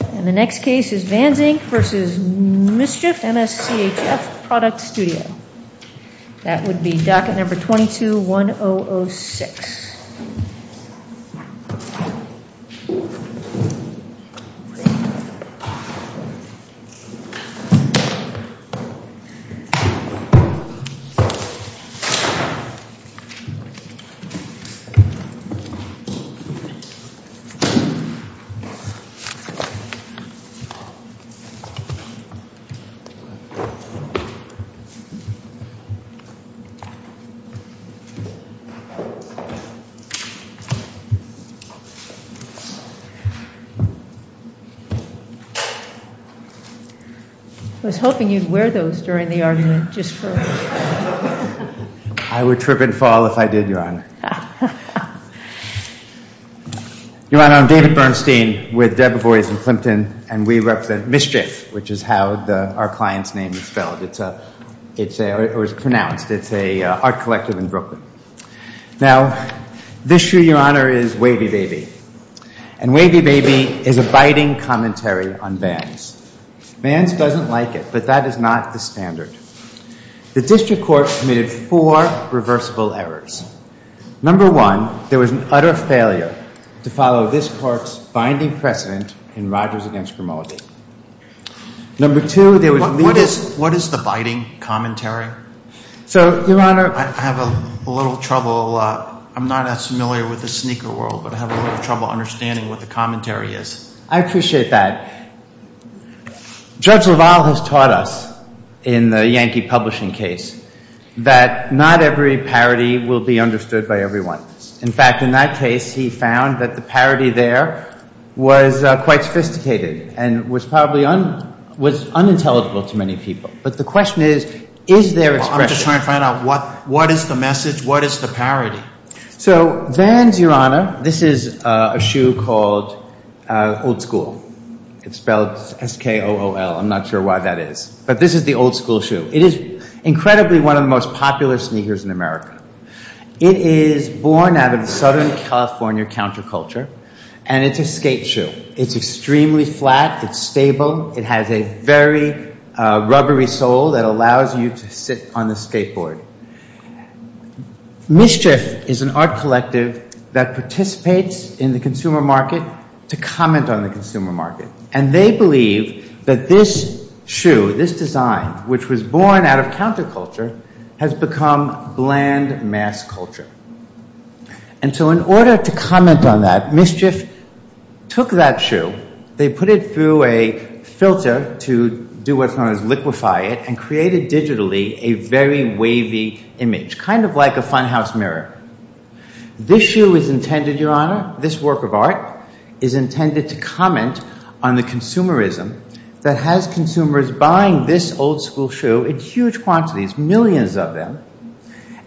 And the next case is Vans, Inc. v. MSCHF Product Studio. That would be docket number 22-1006. I was hoping you'd wear those during the argument just for a minute. I would trip and fall if I did, Your Honor. Your Honor, I'm David Bernstein with Debevoise and Plimpton, and we represent MSCHF, which is how our client's name is spelled, or is pronounced. It's an art collective in Brooklyn. Now, this here, Your Honor, is Wavy Baby. And Wavy Baby is a biting commentary on Vans. Vans doesn't like it, but that is not the standard. The district court committed four reversible errors. Number one, there was an utter failure to follow this court's binding precedent in Rogers v. Grimaldi. Number two, there was— What is the biting commentary? So, Your Honor— I have a little trouble—I'm not as familiar with the sneaker world, but I have a little trouble understanding what the commentary is. I appreciate that. Judge LaValle has taught us, in the Yankee publishing case, that not every parody will be understood by everyone. In fact, in that case, he found that the parody there was quite sophisticated and was probably—was unintelligible to many people. But the question is, is there expression? Well, I'm just trying to find out what is the message, what is the parody? So, Vans, Your Honor—this is a shoe called Old School. It's spelled S-K-O-O-L. I'm not sure why that is. But this is the Old School shoe. It is incredibly one of the most popular sneakers in America. It is born out of Southern California counterculture, and it's a skate shoe. It's extremely flat. It's stable. It has a very rubbery sole that allows you to sit on the skateboard. Mischief is an art collective that participates in the consumer market to comment on the consumer market. And they believe that this shoe, this design, which was born out of counterculture, has become bland mass culture. And so in order to comment on that, Mischief took that shoe, they put it through a filter to do what's known as liquify it, and created digitally a very wavy image, kind of like a funhouse mirror. This shoe is intended, Your Honor, this work of art, is intended to comment on the consumerism that has consumers buying this Old School shoe in huge quantities, millions of them.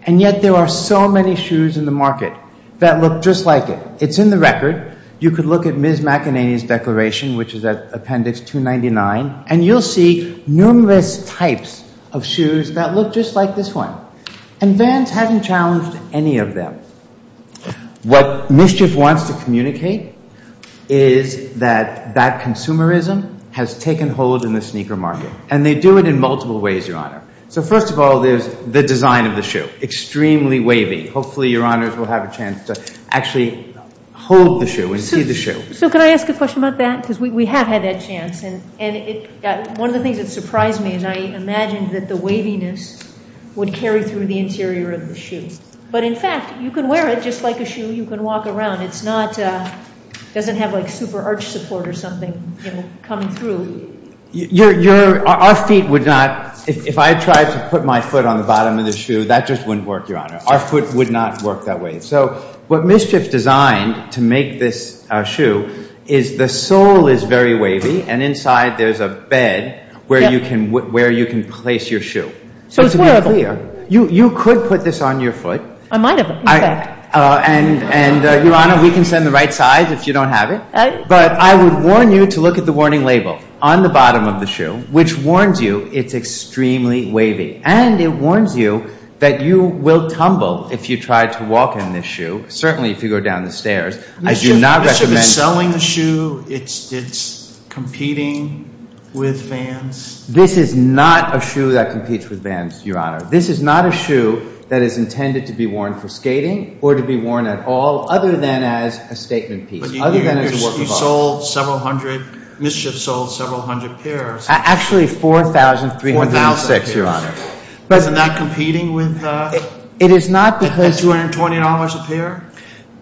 And yet there are so many shoes in the market that look just like it. It's in the record. You could look at Ms. McEnany's declaration, which is at appendix 299, and you'll see numerous types of shoes that look just like this one. And Vance hasn't challenged any of them. What Mischief wants to communicate is that that consumerism has taken hold in the sneaker market. And they do it in multiple ways, Your Honor. So first of all, there's the design of the shoe, extremely wavy. Hopefully, Your Honors will have a chance to actually hold the shoe and see the shoe. So could I ask a question about that? Because we have had that chance. And one of the things that surprised me is I imagined that the waviness would carry through the interior of the shoe. But in fact, you can wear it just like a shoe. You can walk around. It's not, it doesn't have like super arch support or something coming through. Our feet would not, if I tried to put my foot on the bottom of the shoe, that just wouldn't work, Your Honor. Our foot would not work that way. So what Mischief designed to make this shoe is the sole is very wavy, and inside there's a bed where you can place your shoe. So to be clear, you could put this on your foot. I might have. And Your Honor, we can send the right size if you don't have it. But I would warn you to look at the warning label on the bottom of the shoe, which warns you it's extremely wavy. And it warns you that you will tumble if you try to walk in this shoe, certainly if you go down the stairs. I do not recommend... Mischief is selling the shoe. It's competing with fans. This is not a shoe that competes with fans, Your Honor. This is not a shoe that is intended to be worn for skating or to be worn at all, other than as a statement piece, other than as a work of art. You sold several hundred, Mischief sold several hundred pairs. Actually, 4,306, Your Honor. But it's not competing with... It is not because... $220 a pair?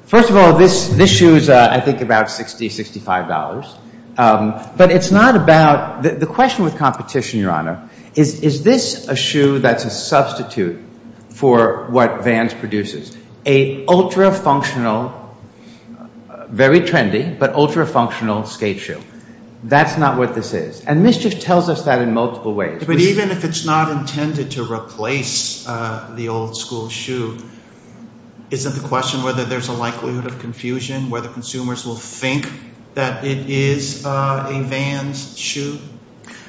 First of all, this shoe is, I think, about $60, $65. But it's not about... The question with competition, Your Honor, is this a shoe that's a substitute for what Vans produces? A ultra-functional, very trendy, but ultra-functional skate shoe. That's not what this is. And Mischief tells us that in multiple ways. But even if it's not intended to replace the old school shoe, isn't the question whether there's a likelihood of confusion, whether consumers will think that it is a Vans shoe?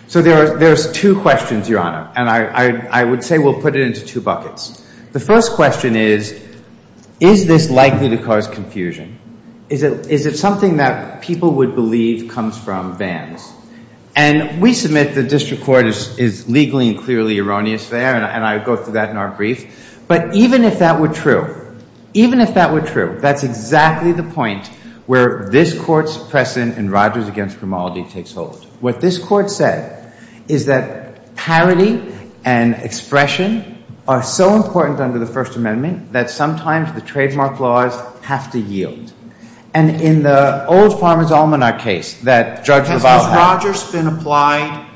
So there's two questions, Your Honor. And I would say we'll put it into two buckets. The first question is, is this likely to cause confusion? Is it something that people would believe comes from Vans? And we submit the district court is legally and clearly erroneous there. And I go through that in our brief. But even if that were true, even if that were true, that's exactly the point where this court's precedent in Rogers v. Grimaldi takes hold. What this court said is that parity and expression are so important under the First Amendment that sometimes the trademark laws have to yield. And in the old Farmer's Almanac case that Judge Revato had... Has Rogers been applied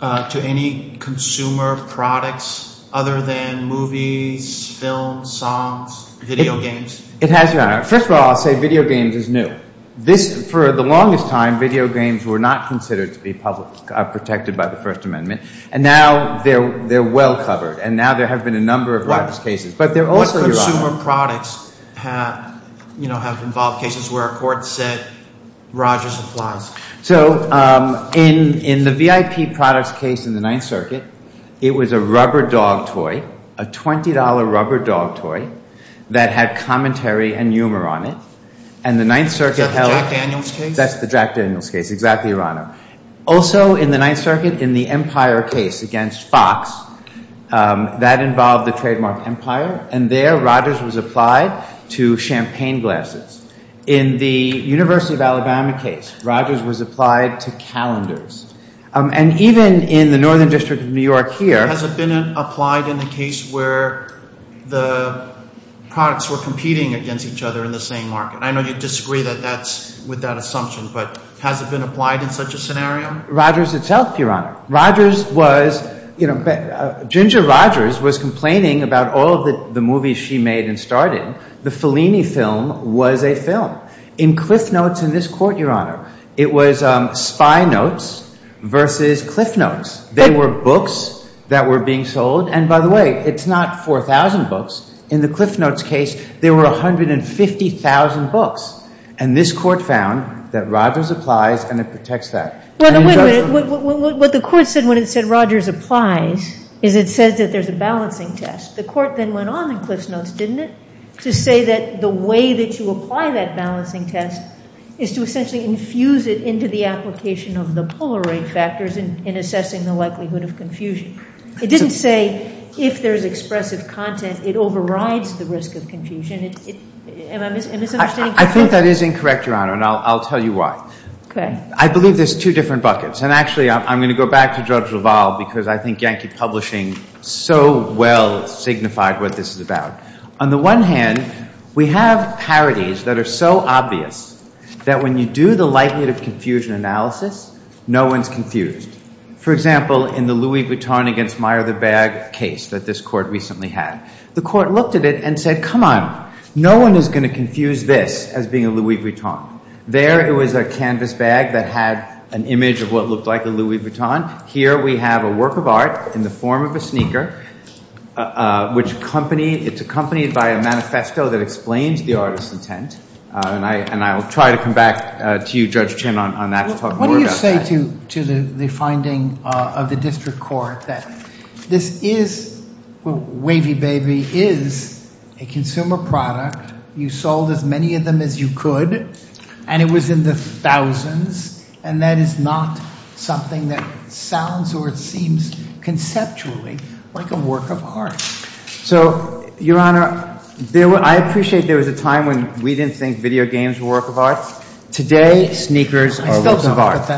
to any consumer products other than movies, films, songs, video games? It has, Your Honor. First of all, I'll say video games is new. For the longest time, video games were not considered to be protected by the First Amendment. And now they're well covered. And now there have been a number of Rogers cases. But they're also... What consumer products have involved cases where a court said Rogers applies? So in the VIP products case in the Ninth Circuit, it was a rubber dog toy, a $20 rubber dog toy that had commentary and humor on it. And the Ninth Circuit held... Is that the Jack Daniels case? That's the Jack Daniels case. Exactly, Your Honor. Also in the Ninth Circuit, in the Empire case against Fox, that involved the trademark Empire. And there Rogers was applied to champagne glasses. In the University of Alabama case, Rogers was applied to calendars. And even in the Northern District of New York here... Has it been applied in a case where the products were competing against each other in the same market? I know you disagree with that assumption, but has it been applied in such a scenario? Rogers itself, Your Honor. Rogers was... Ginger Rogers was complaining about all of the movies she made and starred in. The Fellini film was a film. In Cliff Notes in this court, Your Honor, it was spy notes versus Cliff Notes. They were books that were being sold. And by the way, it's not 4,000 books. In the Cliff Notes case, there were 150,000 books. And this court found that Rogers applies and it protects that. Wait a minute, what the court said when it said Rogers applies is it says that there's a balancing test. The court then went on in Cliff Notes, didn't it? To say that the way that you apply that balancing test is to essentially infuse it into the application of the polar rate factors in assessing the likelihood of confusion. It didn't say if there's expressive content, it overrides the risk of confusion. Am I misunderstanding? I think that is incorrect, Your Honor, and I'll tell you why. I believe there's two different buckets. And actually, I'm going to go back to George Duval because I think Yankee Publishing so well signified what this is about. On the one hand, we have parodies that are so obvious that when you do the likelihood of confusion analysis, no one's confused. For example, in the Louis Vuitton against Meyer the bag case that this court recently had, the court looked at it and said, come on, no one is going to confuse this as being a Louis Vuitton. There, it was a canvas bag that had an image of what looked like a Louis Vuitton. Here, we have a work of art in the form of a sneaker, which it's accompanied by a manifesto that explains the artist's intent. And I'll try to come back to you, Judge Chin, on that to talk more about that. What do you say to the finding of the district court that this is, well, Wavy Baby is a consumer product. You sold as many of them as you could, and it was in the thousands. And that is not something that sounds or it seems conceptually like a work of art. So, Your Honor, I appreciate there was a time when we didn't think video games were work of art. Today, sneakers are works of art.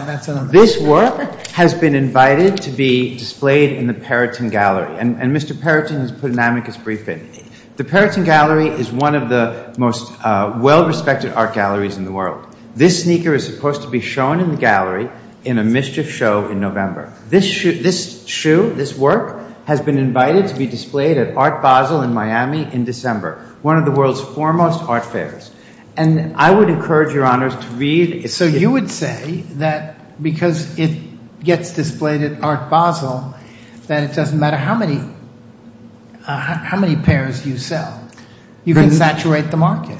This work has been invited to be displayed in the Perrotin Gallery. And Mr. Perrotin has put an amicus brief in. The Perrotin Gallery is one of the most well-respected art galleries in the world. This sneaker is supposed to be shown in the gallery in a mischief show in November. This shoe, this work has been invited to be displayed at Art Basel in Miami in December, one of the world's foremost art fairs. And I would encourage Your Honors to read. So you would say that because it gets displayed at Art Basel, that it doesn't matter how many pairs you sell, you can saturate the market.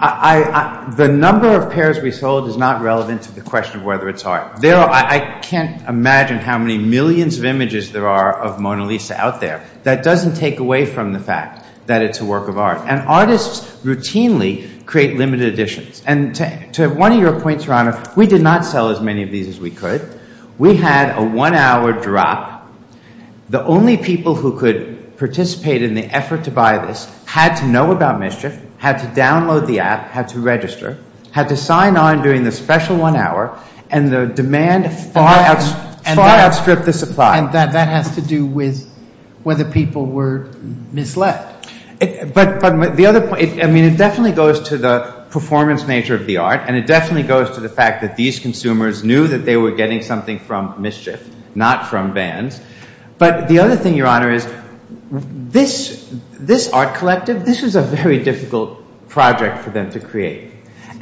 The number of pairs we sold is not relevant to the question of whether it's art. I can't imagine how many millions of images there are of Mona Lisa out there. That doesn't take away from the fact that it's a work of art. And artists routinely create limited editions. And to one of your points, Your Honor, we did not sell as many of these as we could. We had a one-hour drop. The only people who could participate in the effort to buy this had to know about mischief, had to download the app, had to register, had to sign on during the special one hour, and the demand far outstripped the supply. That has to do with whether people were misled. But the other point, I mean, it definitely goes to the performance nature of the art. And it definitely goes to the fact that these consumers knew that they were getting something from mischief, not from bans. But the other thing, Your Honor, is this art collective, this was a very difficult project for them to create.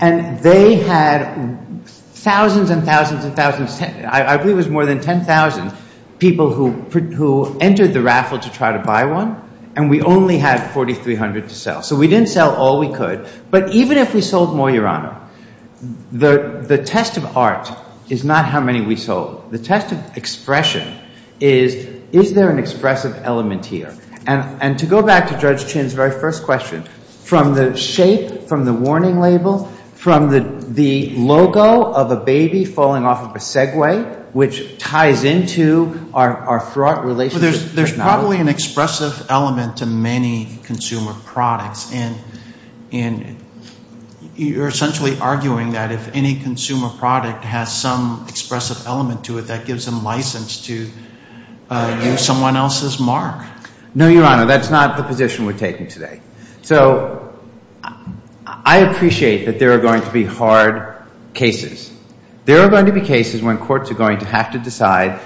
And they had thousands and thousands and thousands, I believe it was more than 10,000 people who entered the raffle to try to buy one. And we only had 4,300 to sell. So we didn't sell all we could. But even if we sold more, Your Honor, the test of art is not how many we sold. The test of expression is, is there an expressive element here? And to go back to Judge Chin's very first question, from the shape, from the warning label, from the logo of a baby falling off of a Segway, which ties into our fraught relationship. There's probably an expressive element to many consumer products. And you're essentially arguing that if any consumer product has some expressive element to it, that gives them license to use someone else's mark. No, Your Honor, that's not the position we're taking today. So I appreciate that there are going to be hard cases. There are going to be cases when courts are going to have to decide,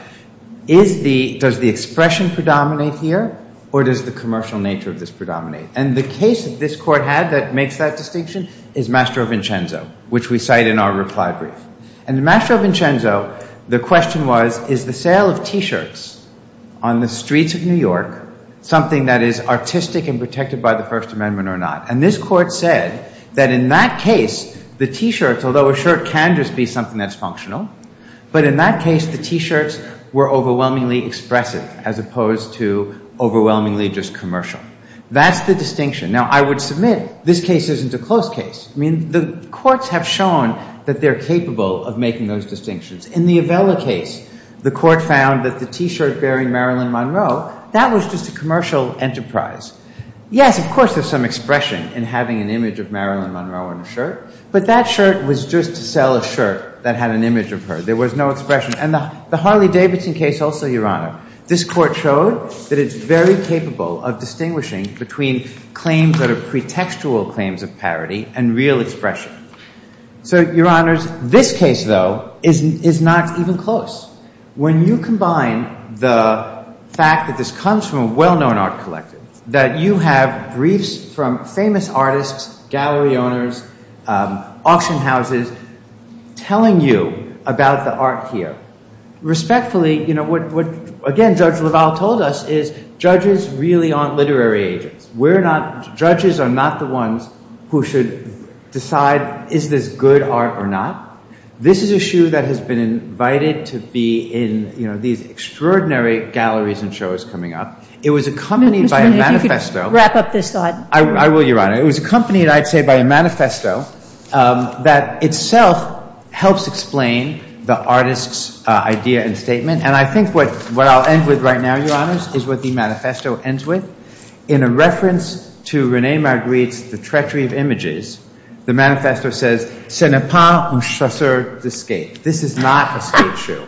does the expression predominate here, or does the commercial nature of this predominate? And the case that this court had that makes that distinction is Mastro Vincenzo, which we cite in our reply brief. And in Mastro Vincenzo, the question was, is the sale of T-shirts on the streets of New York something that is artistic and protected by the First Amendment or not? And this court said that in that case, the T-shirts, although a shirt can just be something that's functional, but in that case, the T-shirts were overwhelmingly expressive as opposed to overwhelmingly just commercial. That's the distinction. Now, I would submit this case isn't a close case. I mean, the courts have shown that they're capable of making those distinctions. In the Avella case, the court found that the T-shirt bearing Marilyn Monroe, that was just a commercial enterprise. Yes, of course, there's some expression in having an image of Marilyn Monroe in a shirt, but that shirt was just to sell a shirt that had an image of her. There was no expression. And the Harley-Davidson case also, Your Honor, this court showed that it's very capable of distinguishing between claims that are pretextual claims of parody and real expression. So, Your Honors, this case, though, is not even close. When you combine the fact that this comes from a well-known art collective, that you have briefs from famous artists, gallery owners, auction houses, telling you about the art here. Respectfully, what, again, Judge LaValle told us is judges really aren't literary agents. Judges are not the ones who should decide, is this good art or not? This is a shoe that has been invited to be in these extraordinary galleries and shows coming up. It was accompanied by a manifesto. Wrap up this thought. I will, Your Honor. It was accompanied, I'd say, by a manifesto that itself helps explain the artist's idea and statement. And I think what I'll end with right now, Your Honors, is what the manifesto ends with. In a reference to Rene Marguerite's The Treachery of Images, the manifesto says, C'est n'est pas un chasseur de skate. This is not a skate shoe.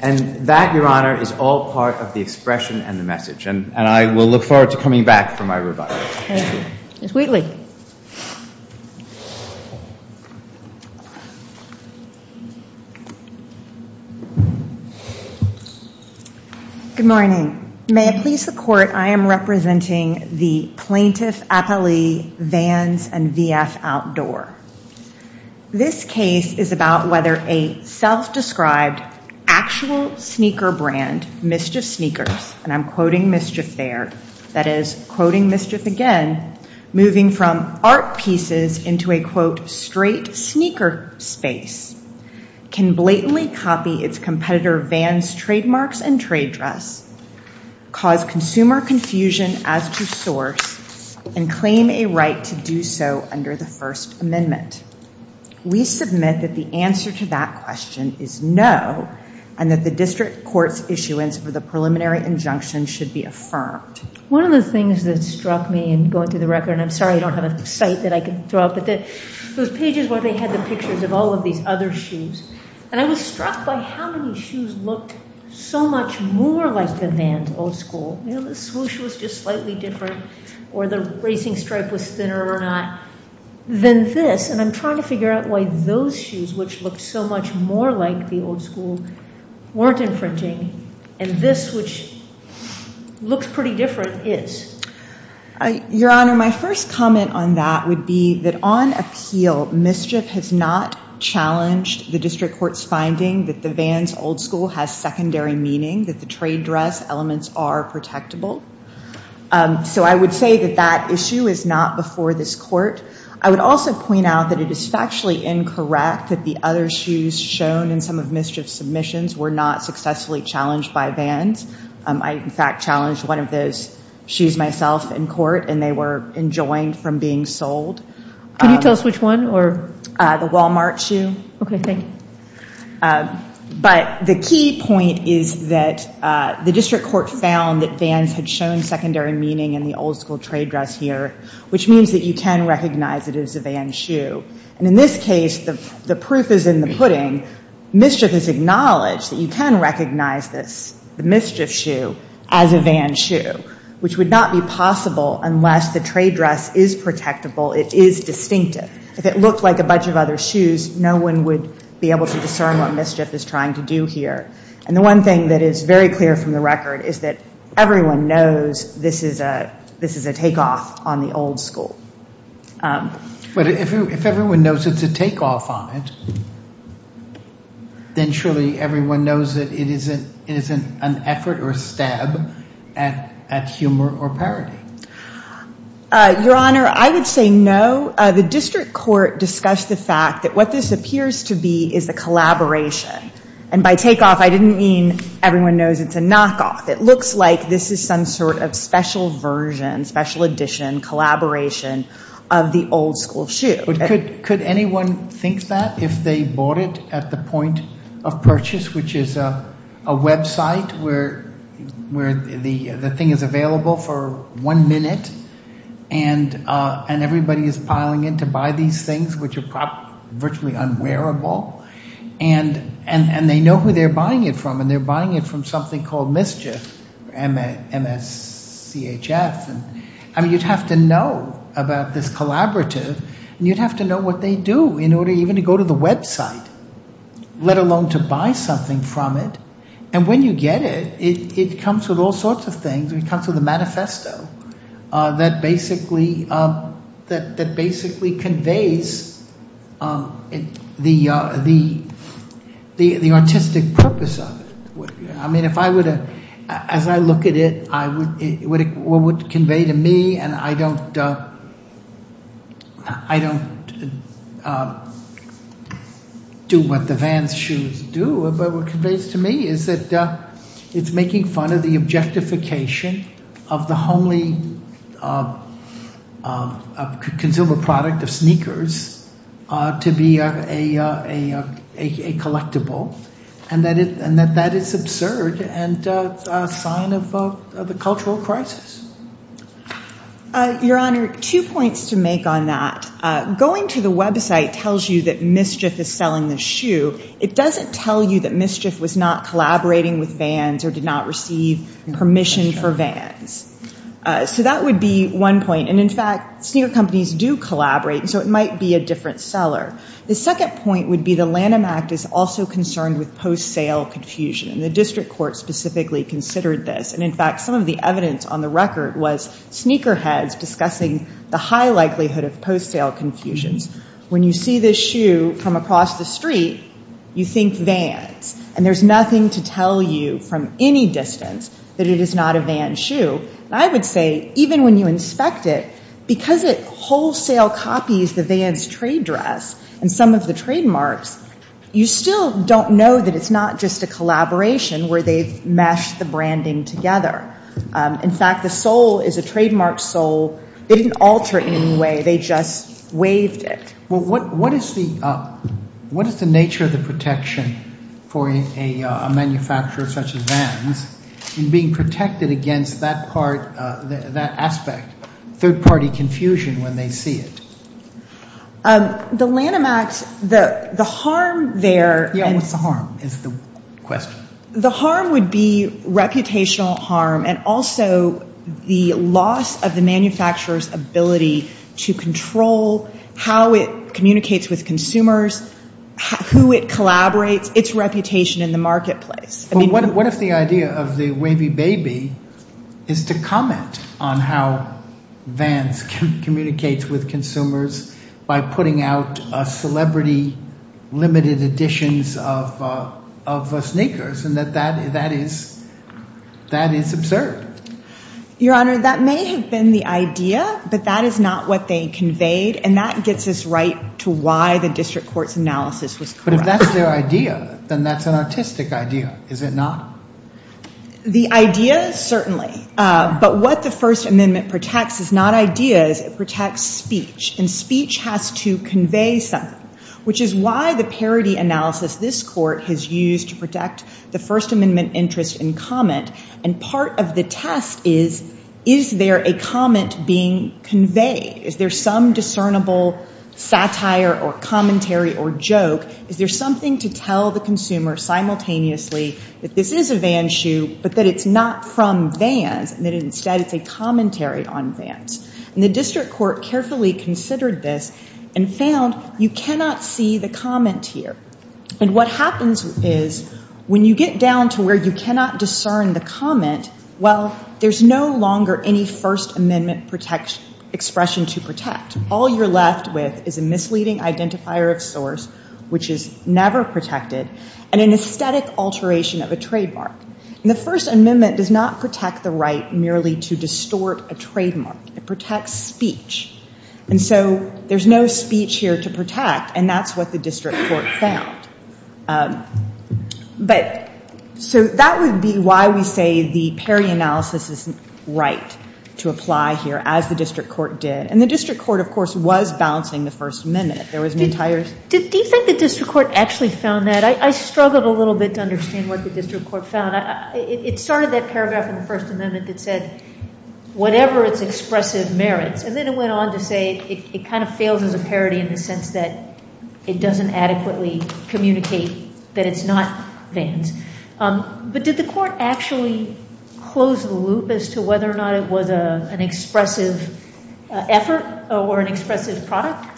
And that, Your Honor, is all part of the expression and the message. And I will look forward to coming back for my rebuttal. Thank you. Ms. Wheatley. Good morning. May it please the Court, I am representing the plaintiff appellee Vans and VF Outdoor. This case is about whether a self-described actual sneaker brand, Mischief Sneakers, and I'm quoting mischief there, that is, quoting mischief again, moving from art pieces into a, quote, straight sneaker space, can blatantly copy its competitor Vans trademarks and trade dress, cause consumer confusion as to source, and claim a right to do so under the First Amendment. We submit that the answer to that question is no, and that the district court's issuance for the preliminary injunction should be affirmed. One of the things that struck me in going through the record, and I'm sorry I don't have a site that I can throw up, but those pages where they had the pictures of all of these other shoes, and I was struck by how many shoes looked so much more like the Vans old school. You know, the swoosh was just slightly different, or the racing stripe was thinner or not, than this. And I'm trying to figure out why those shoes, which looked so much more like the old school, weren't infringing, and this, which looks pretty different, is. Your Honor, my first comment on that would be that on appeal, mischief has not challenged the district court's finding that the Vans old school has secondary meaning, that the trade dress elements are protectable. So I would say that that issue is not before this court. I would also point out that it is factually incorrect that the other shoes shown in some of mischief's submissions were not successfully challenged by Vans. I, in fact, challenged one of those shoes myself in court, and they were enjoined from being sold. Can you tell us which one, or? The Walmart shoe. Okay, thank you. But the key point is that the district court found that Vans had shown secondary meaning in the old school trade dress here, which means that you can recognize it as a Vans shoe. And in this case, the proof is in the pudding. Mischief has acknowledged that you can recognize this, the mischief shoe, as a Vans shoe, which would not be possible unless the trade dress is protectable, it is distinctive. If it looked like a bunch of other shoes, no one would be able to discern what mischief is trying to do here. And the one thing that is very clear from the record is that everyone knows this is a takeoff on the old school. But if everyone knows it's a takeoff on it, then surely everyone knows that it isn't an effort or a stab at humor or parody. Your Honor, I would say no. The district court discussed the fact that what this appears to be is a collaboration. And by takeoff, I didn't mean everyone knows it's a knockoff. It looks like this is some sort of special version, special edition, collaboration of the old school shoe. But could anyone think that if they bought it at the point of purchase, which is a website where the thing is available for one minute and everybody is piling in to buy these things, which are virtually unwearable, and they know who they're buying it from, and they're buying it from something called mischief, MSCHF. I mean, you'd have to know about this collaborative, and you'd have to know what they do in order even to go to the website, let alone to buy something from it. And when you get it, it comes with all sorts of things. It comes with a manifesto that basically conveys the artistic purpose of it. I mean, as I look at it, what it would convey to me, and I don't do what the Vans shoes do, but what it conveys to me is that it's making fun of the objectification of the only consumer product of sneakers to be a collectible, and that that is absurd and a sign of the cultural crisis. MS. HAUSERMAN Your Honor, two points to make on that. Going to the website tells you that MSCHF is selling the shoe. It doesn't tell you that MSCHF was not collaborating with Vans or did not receive permission for Vans. So that would be one point. And in fact, sneaker companies do collaborate, and so it might be a different seller. The second point would be the Lanham Act is also concerned with post-sale confusion, and the District Court specifically considered this. And in fact, some of the evidence on the record was sneaker heads discussing the high likelihood of post-sale confusions. When you see this shoe from across the street, you think Vans, and there's nothing to tell you from any distance that it is not a Vans shoe. I would say, even when you inspect it, because it wholesale copies the Vans trade dress and some of the trademarks, you still don't know that it's not just a collaboration where they've meshed the branding together. In fact, the sole is a trademark sole. They didn't alter it in any way. They just waived it. Well, what is the nature of the protection for a manufacturer such as Vans in being protected against that part, that aspect, third-party confusion when they see it? Um, the Lanham Act, the harm there... Yeah, what's the harm is the question. The harm would be reputational harm and also the loss of the manufacturer's ability to control how it communicates with consumers, who it collaborates, its reputation in the marketplace. But what if the idea of the wavy baby is to comment on how Vans communicates with consumers by putting out celebrity limited editions of sneakers and that that is absurd? Your Honor, that may have been the idea, but that is not what they conveyed. And that gets us right to why the district court's analysis was correct. But if that's their idea, then that's an artistic idea, is it not? The idea, certainly. But what the First Amendment protects is not ideas, it protects speech. And speech has to convey something, which is why the parody analysis this court has used to protect the First Amendment interest in comment. And part of the test is, is there a comment being conveyed? Is there some discernible satire or commentary or joke? Is there something to tell the consumer simultaneously that this is a Vans shoe, but that it's not from Vans and that instead it's a commentary on Vans? And the district court carefully considered this and found you cannot see the comment here. And what happens is, when you get down to where you cannot discern the comment, well, there's no longer any First Amendment expression to protect. All you're left with is a misleading identifier of source, which is never protected, and an aesthetic alteration of a trademark. And the First Amendment does not protect the right merely to distort a trademark. It protects speech. And so there's no speech here to protect, and that's what the district court found. But so that would be why we say the parody analysis isn't right to apply here, as the district court did. And the district court, of course, was balancing the First Amendment. There was an entire... Do you think the district court actually found that? I struggled a little bit to understand what the district court found. It started that paragraph in the First Amendment that said, whatever its expressive merits. And then it went on to say it kind of fails as a parody in the sense that it doesn't adequately communicate that it's not Vans. But did the court actually close the loop as to whether or not it was an expressive effort or an expressive product?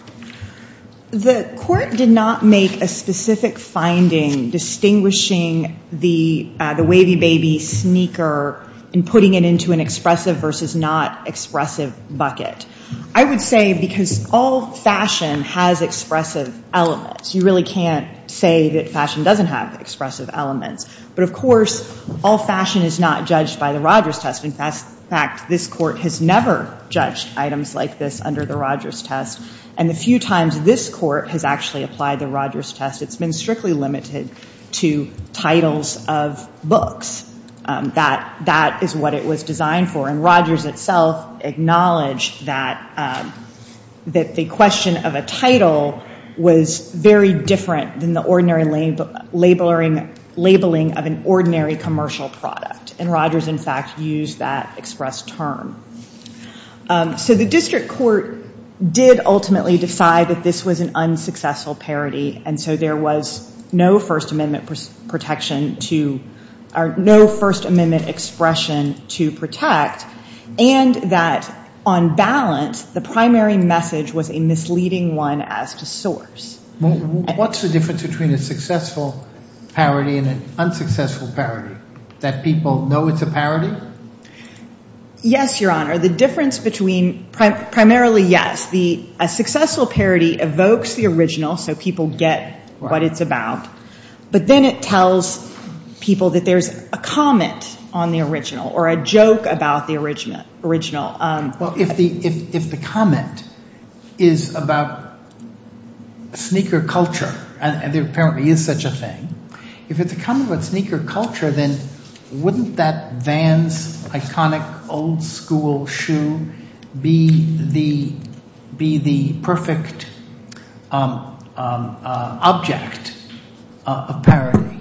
The court did not make a specific finding distinguishing the wavy baby sneaker and putting it into an expressive versus not expressive bucket. I would say because all fashion has expressive elements. You really can't say that fashion doesn't have expressive elements. But of course, all fashion is not judged by the Rogers test. In fact, this court has never judged items like this under the Rogers test. And the few times this court has actually applied the Rogers test, it's been strictly limited to titles of books. That is what it was designed for. And Rogers itself acknowledged that the question of a title was very different than the ordinary labeling of an ordinary commercial product. And Rogers, in fact, used that express term. So the district court did ultimately decide that this was an unsuccessful parody. And so there was no First Amendment expression to protect. And that on balance, the primary message was a misleading one as to source. What's the difference between a successful parody and an unsuccessful parody? That people know it's a parody? Yes, Your Honor. The difference between primarily, yes. A successful parody evokes the original. So people get what it's about. But then it tells people that there's a comment on the original or a joke about the original. Well, if the comment is about sneaker culture, and there apparently is such a thing, if it's a comment about sneaker culture, then wouldn't that Vans iconic old school shoe be the perfect object of parody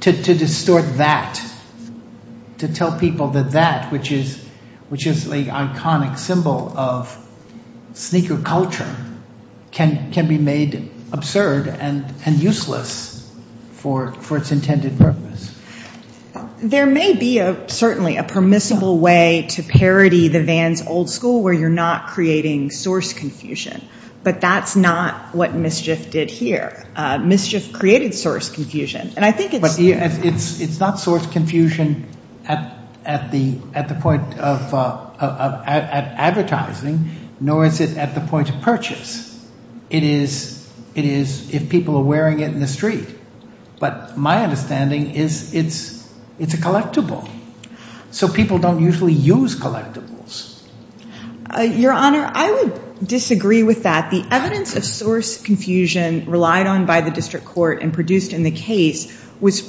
to distort that, to tell people that that, which is the iconic symbol of sneaker culture, can be made absurd and useless for its intended purpose? There may be, certainly, a permissible way to parody the Vans old school where you're not creating source confusion. But that's not what mischief did here. Mischief created source confusion. And I think it's- But it's not source confusion at the point of advertising, nor is it at the point of purchase. It is if people are wearing it in the street. But my understanding is it's a collectible. So people don't usually use collectibles. Your Honor, I would disagree with that. The evidence of source confusion relied on by the district court and produced in the case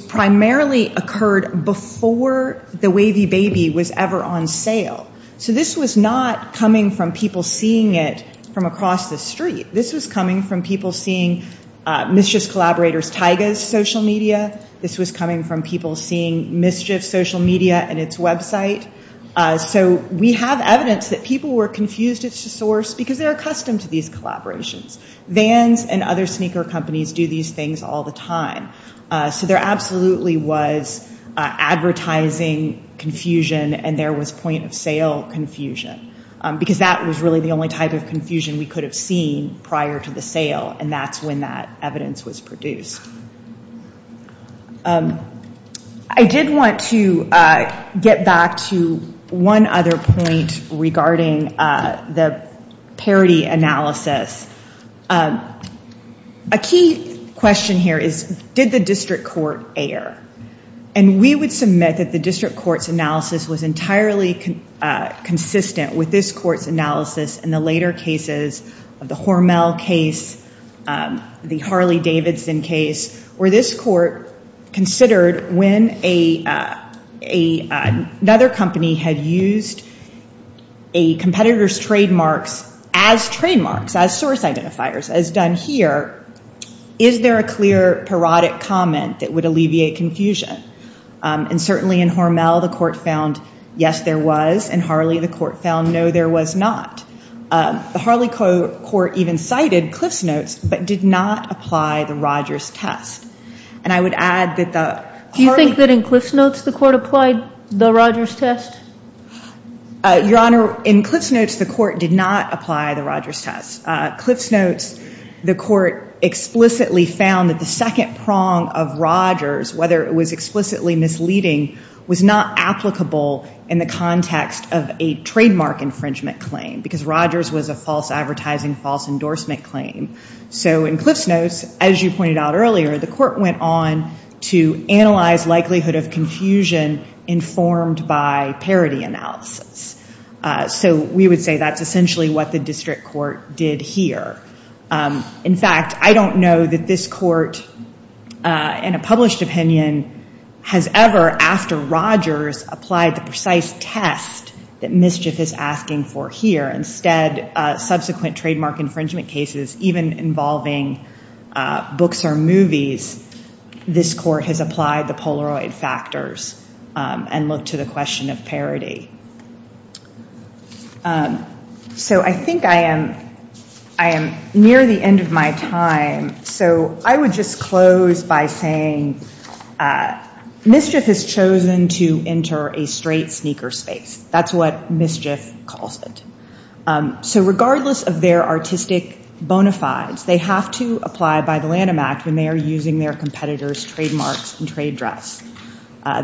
primarily occurred before the wavy baby was ever on sale. So this was not coming from people seeing it from across the street. This was coming from people seeing mischief collaborators Taiga's social media. This was coming from people seeing mischief social media and its website. So we have evidence that people were confused as to source because they're accustomed to these collaborations. Vans and other sneaker companies do these things all the time. So there absolutely was advertising confusion. And there was point of sale confusion. Because that was really the only type of confusion we could have seen prior to the sale. And that's when that evidence was produced. I did want to get back to one other point regarding the parity analysis. A key question here is, did the district court err? And we would submit that the district court's analysis was entirely consistent with this court's analysis in the later cases of the Hormel case, the Harley Davidson case, where this court considered when another company had used a competitor's trademarks as trademarks, as source identifiers, as done here, is there a clear parodic comment that would alleviate confusion? And certainly in Hormel, the court found yes, there was. In Harley, the court found no, there was not. The Harley court even cited Cliff's notes but did not apply the Rogers test. And I would add that the Harley- Do you think that in Cliff's notes, the court applied the Rogers test? Your Honor, in Cliff's notes, the court did not apply the Rogers test. Cliff's notes, the court explicitly found that the second prong of Rogers, whether it was explicitly misleading, was not applicable in the context of a trademark infringement claim. Because Rogers was a false advertising, false endorsement claim. So in Cliff's notes, as you pointed out earlier, the court went on to analyze likelihood of confusion informed by parody analysis. So we would say that's essentially what the district court did here. In fact, I don't know that this court, in a published opinion, has ever, after Rogers, applied the precise test that mischief is asking for here. Instead, subsequent trademark infringement cases, even involving books or movies, this court has applied the Polaroid factors and looked to the question of parody. So I think I am near the end of my time. So I would just close by saying, mischief has chosen to enter a straight sneaker space. That's what mischief calls it. So regardless of their artistic bona fides, they have to apply by the Lanham Act when they are using their competitors' trademarks and trade dress.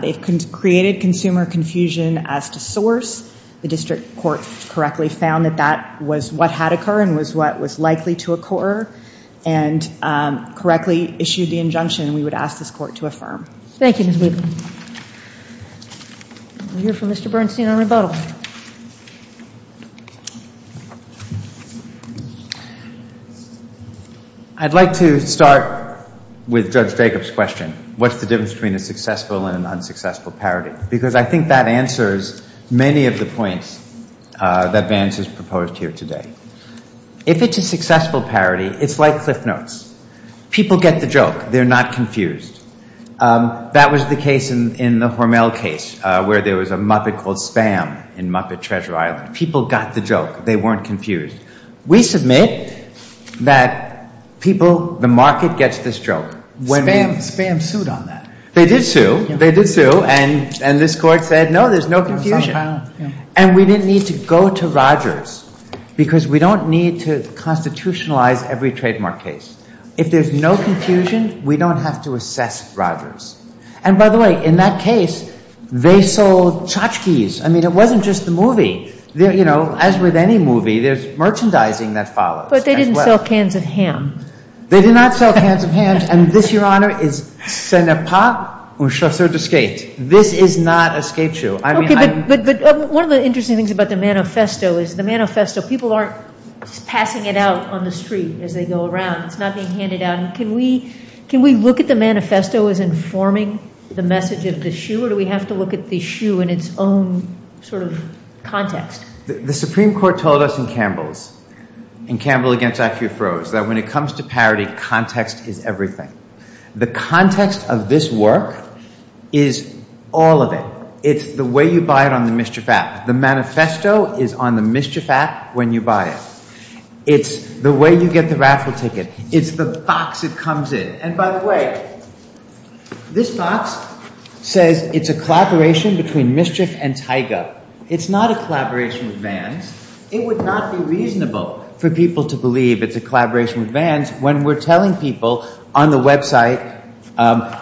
They've created consumer confusion as to source. The district court correctly found that that was what had occurred and was what was likely to occur. And correctly issued the injunction we would ask this court to affirm. Thank you, Ms. Weaver. We'll hear from Mr. Bernstein on rebuttal. I'd like to start with Judge Jacob's question. What's the difference between a successful and an unsuccessful parody? Because I think that answers many of the points that Vance has proposed here today. If it's a successful parody, it's like Cliff Notes. People get the joke. They're not confused. That was the case in the Hormel case, where there was a Muppet called Spam in Muppet Treasure Island. People got the joke. They weren't confused. We submit that people, the market gets this joke. Spam sued on that. They did sue. They did sue. And this court said, no, there's no confusion. And we didn't need to go to Rogers because we don't need to constitutionalize every trademark case. If there's no confusion, we don't have to assess Rogers. they sold tchotchkes. I mean, it wasn't just the movie. As with any movie, there's merchandising that follows. But they didn't sell cans of ham. They did not sell cans of ham. And this, Your Honor, is c'est n'est pas un chasseur de skate. This is not a skate shoe. One of the interesting things about the manifesto is the manifesto, people aren't passing it out on the street as they go around. It's not being handed out. Can we look at the manifesto as informing the message of the shoe or do we have to look at the shoe in its own sort of context? The Supreme Court told us in Campbell's, in Campbell against Accu-Froze, that when it comes to parody, context is everything. The context of this work is all of it. It's the way you buy it on the Mischief App. The manifesto is on the Mischief App when you buy it. It's the way you get the raffle ticket. It's the box it comes in. And by the way, this box says it's a collaboration between Mischief and Tyga. It's not a collaboration with Vans. It would not be reasonable for people to believe it's a collaboration with Vans when we're telling people on the website,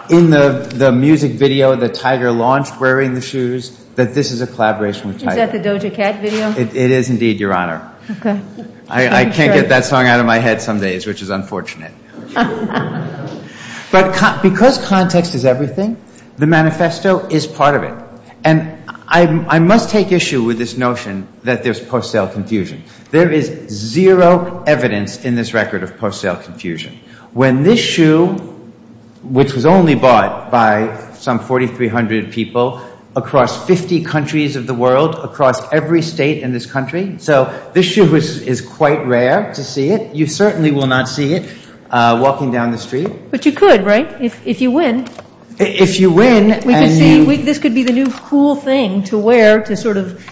in the music video, the tiger launched wearing the shoes, that this is a collaboration with Tyga. Is that the Doja Cat video? It is indeed, Your Honor. I can't get that song out of my head some days, which is unfortunate. But because context is everything, the manifesto is part of it. And I must take issue with this notion that there's post-sale confusion. There is zero evidence in this record of post-sale confusion. When this shoe, which was only bought by some 4,300 people across 50 countries of the world, across every state in this country. So this shoe is quite rare to see it. You certainly will not see it walking down the street. But you could, right? If you win. If you win. This could be the new cool thing to wear to sort of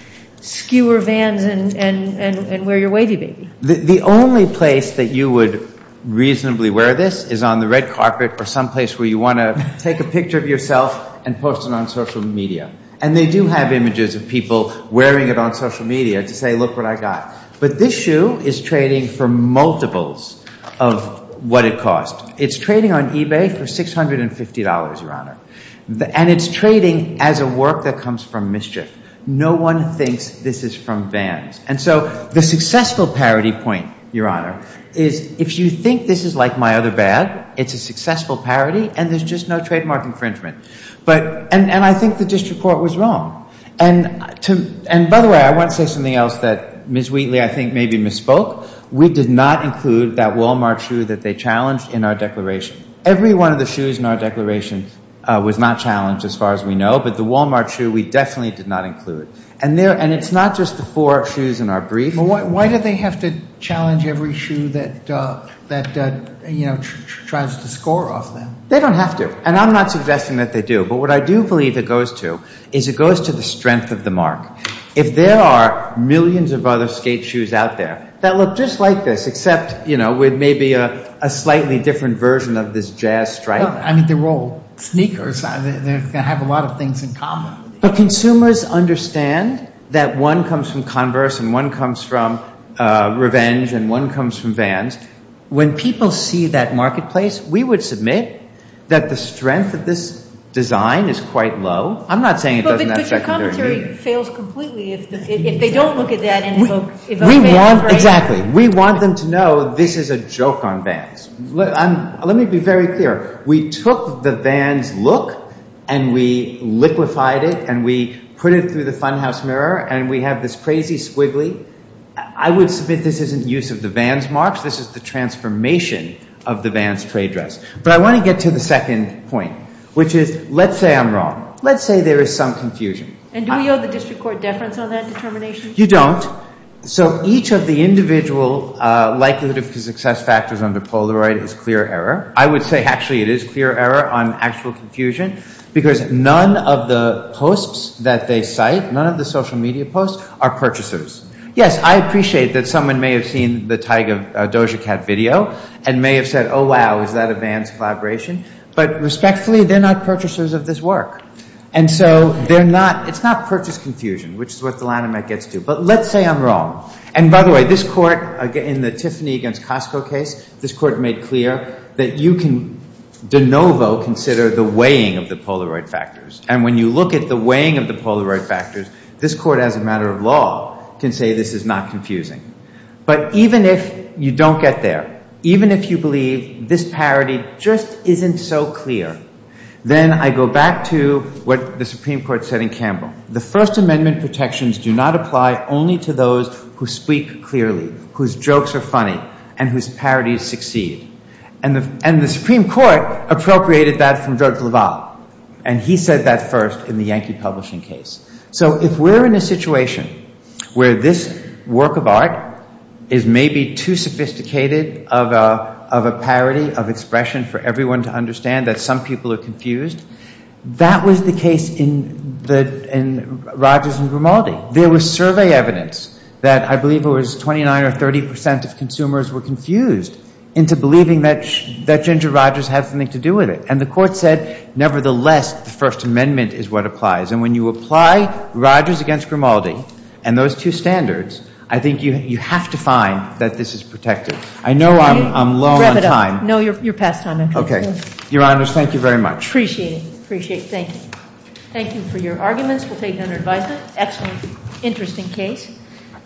skewer Vans and wear your wavy baby. The only place that you would reasonably wear this is on the red carpet or someplace where you want to take a picture of yourself and post it on social media. And they do have images of people wearing it on social media to say, look what I got. But this shoe is trading for multiples of what it cost. It's trading on eBay for $650, Your Honor. And it's trading as a work that comes from mischief. No one thinks this is from Vans. And so the successful parody point, Your Honor, is if you think this is like my other bag, it's a successful parody. And there's just no trademark infringement. And I think the district court was wrong. And by the way, I want to say something else that Ms. Wheatley, I think, maybe misspoke. We did not include that Walmart shoe that they challenged in our declaration. Every one of the shoes in our declaration was not challenged as far as we know. But the Walmart shoe, we definitely did not include. And it's not just the four shoes in our brief. But why do they have to challenge every shoe that tries to score off them? They don't have to. And I'm not suggesting that they do. But what I do believe it goes to is it goes to the strength of the mark. If there are millions of other skate shoes out there that look just like this, with maybe a slightly different version of this jazz stripe. I mean, they're all sneakers. They have a lot of things in common. But consumers understand that one comes from Converse, and one comes from Revenge, and one comes from Vans. When people see that marketplace, we would submit that the strength of this design is quite low. I'm not saying it doesn't have secondary meaning. if they don't look at that and evoke Vans, right? Exactly. We want them to know this is a joke on Vans. Let me be very clear. We took the Vans look, and we liquefied it, and we put it through the funhouse mirror, and we have this crazy squiggly. I would submit this isn't use of the Vans marks. This is the transformation of the Vans trade dress. But I want to get to the second point, which is, let's say I'm wrong. Let's say there is some confusion. And do we owe the district court deference on that determination? You don't. So each of the individual likelihood of success factors under Polaroid is clear error. I would say, actually, it is clear error on actual confusion, because none of the posts that they cite, none of the social media posts, are purchasers. Yes, I appreciate that someone may have seen the Tiger Doja Cat video and may have said, oh, wow, is that a Vans collaboration? But respectfully, they're not purchasers of this work. And so it's not purchase confusion, which is what the Lanhamet gets to. But let's say I'm wrong. And by the way, this court, in the Tiffany against Costco case, this court made clear that you can de novo consider the weighing of the Polaroid factors. And when you look at the weighing of the Polaroid factors, this court, as a matter of law, can say this is not confusing. But even if you don't get there, even if you believe this parity just isn't so clear, then I go back to what the Supreme Court said in Campbell. The First Amendment protections do not apply only to those who speak clearly, whose jokes are funny, and whose parodies succeed. And the Supreme Court appropriated that from George Leval. And he said that first in the Yankee publishing case. So if we're in a situation where this work of art is maybe too sophisticated of a parity of expression for everyone to understand, that some people are confused, that was the case in Rogers and Grimaldi. There was survey evidence that I believe it was 29% or 30% of consumers were confused into believing that Ginger Rogers had something to do with it. And the court said, nevertheless, the First Amendment is what applies. And when you apply Rogers against Grimaldi and those two standards, I think you have to find that this is protective. I know I'm low on time. No, you're past time. OK. Your Honors, thank you very much. Appreciate it. Appreciate it. Thank you. Thank you for your arguments. We'll take it under advisement. Excellent. Interesting case.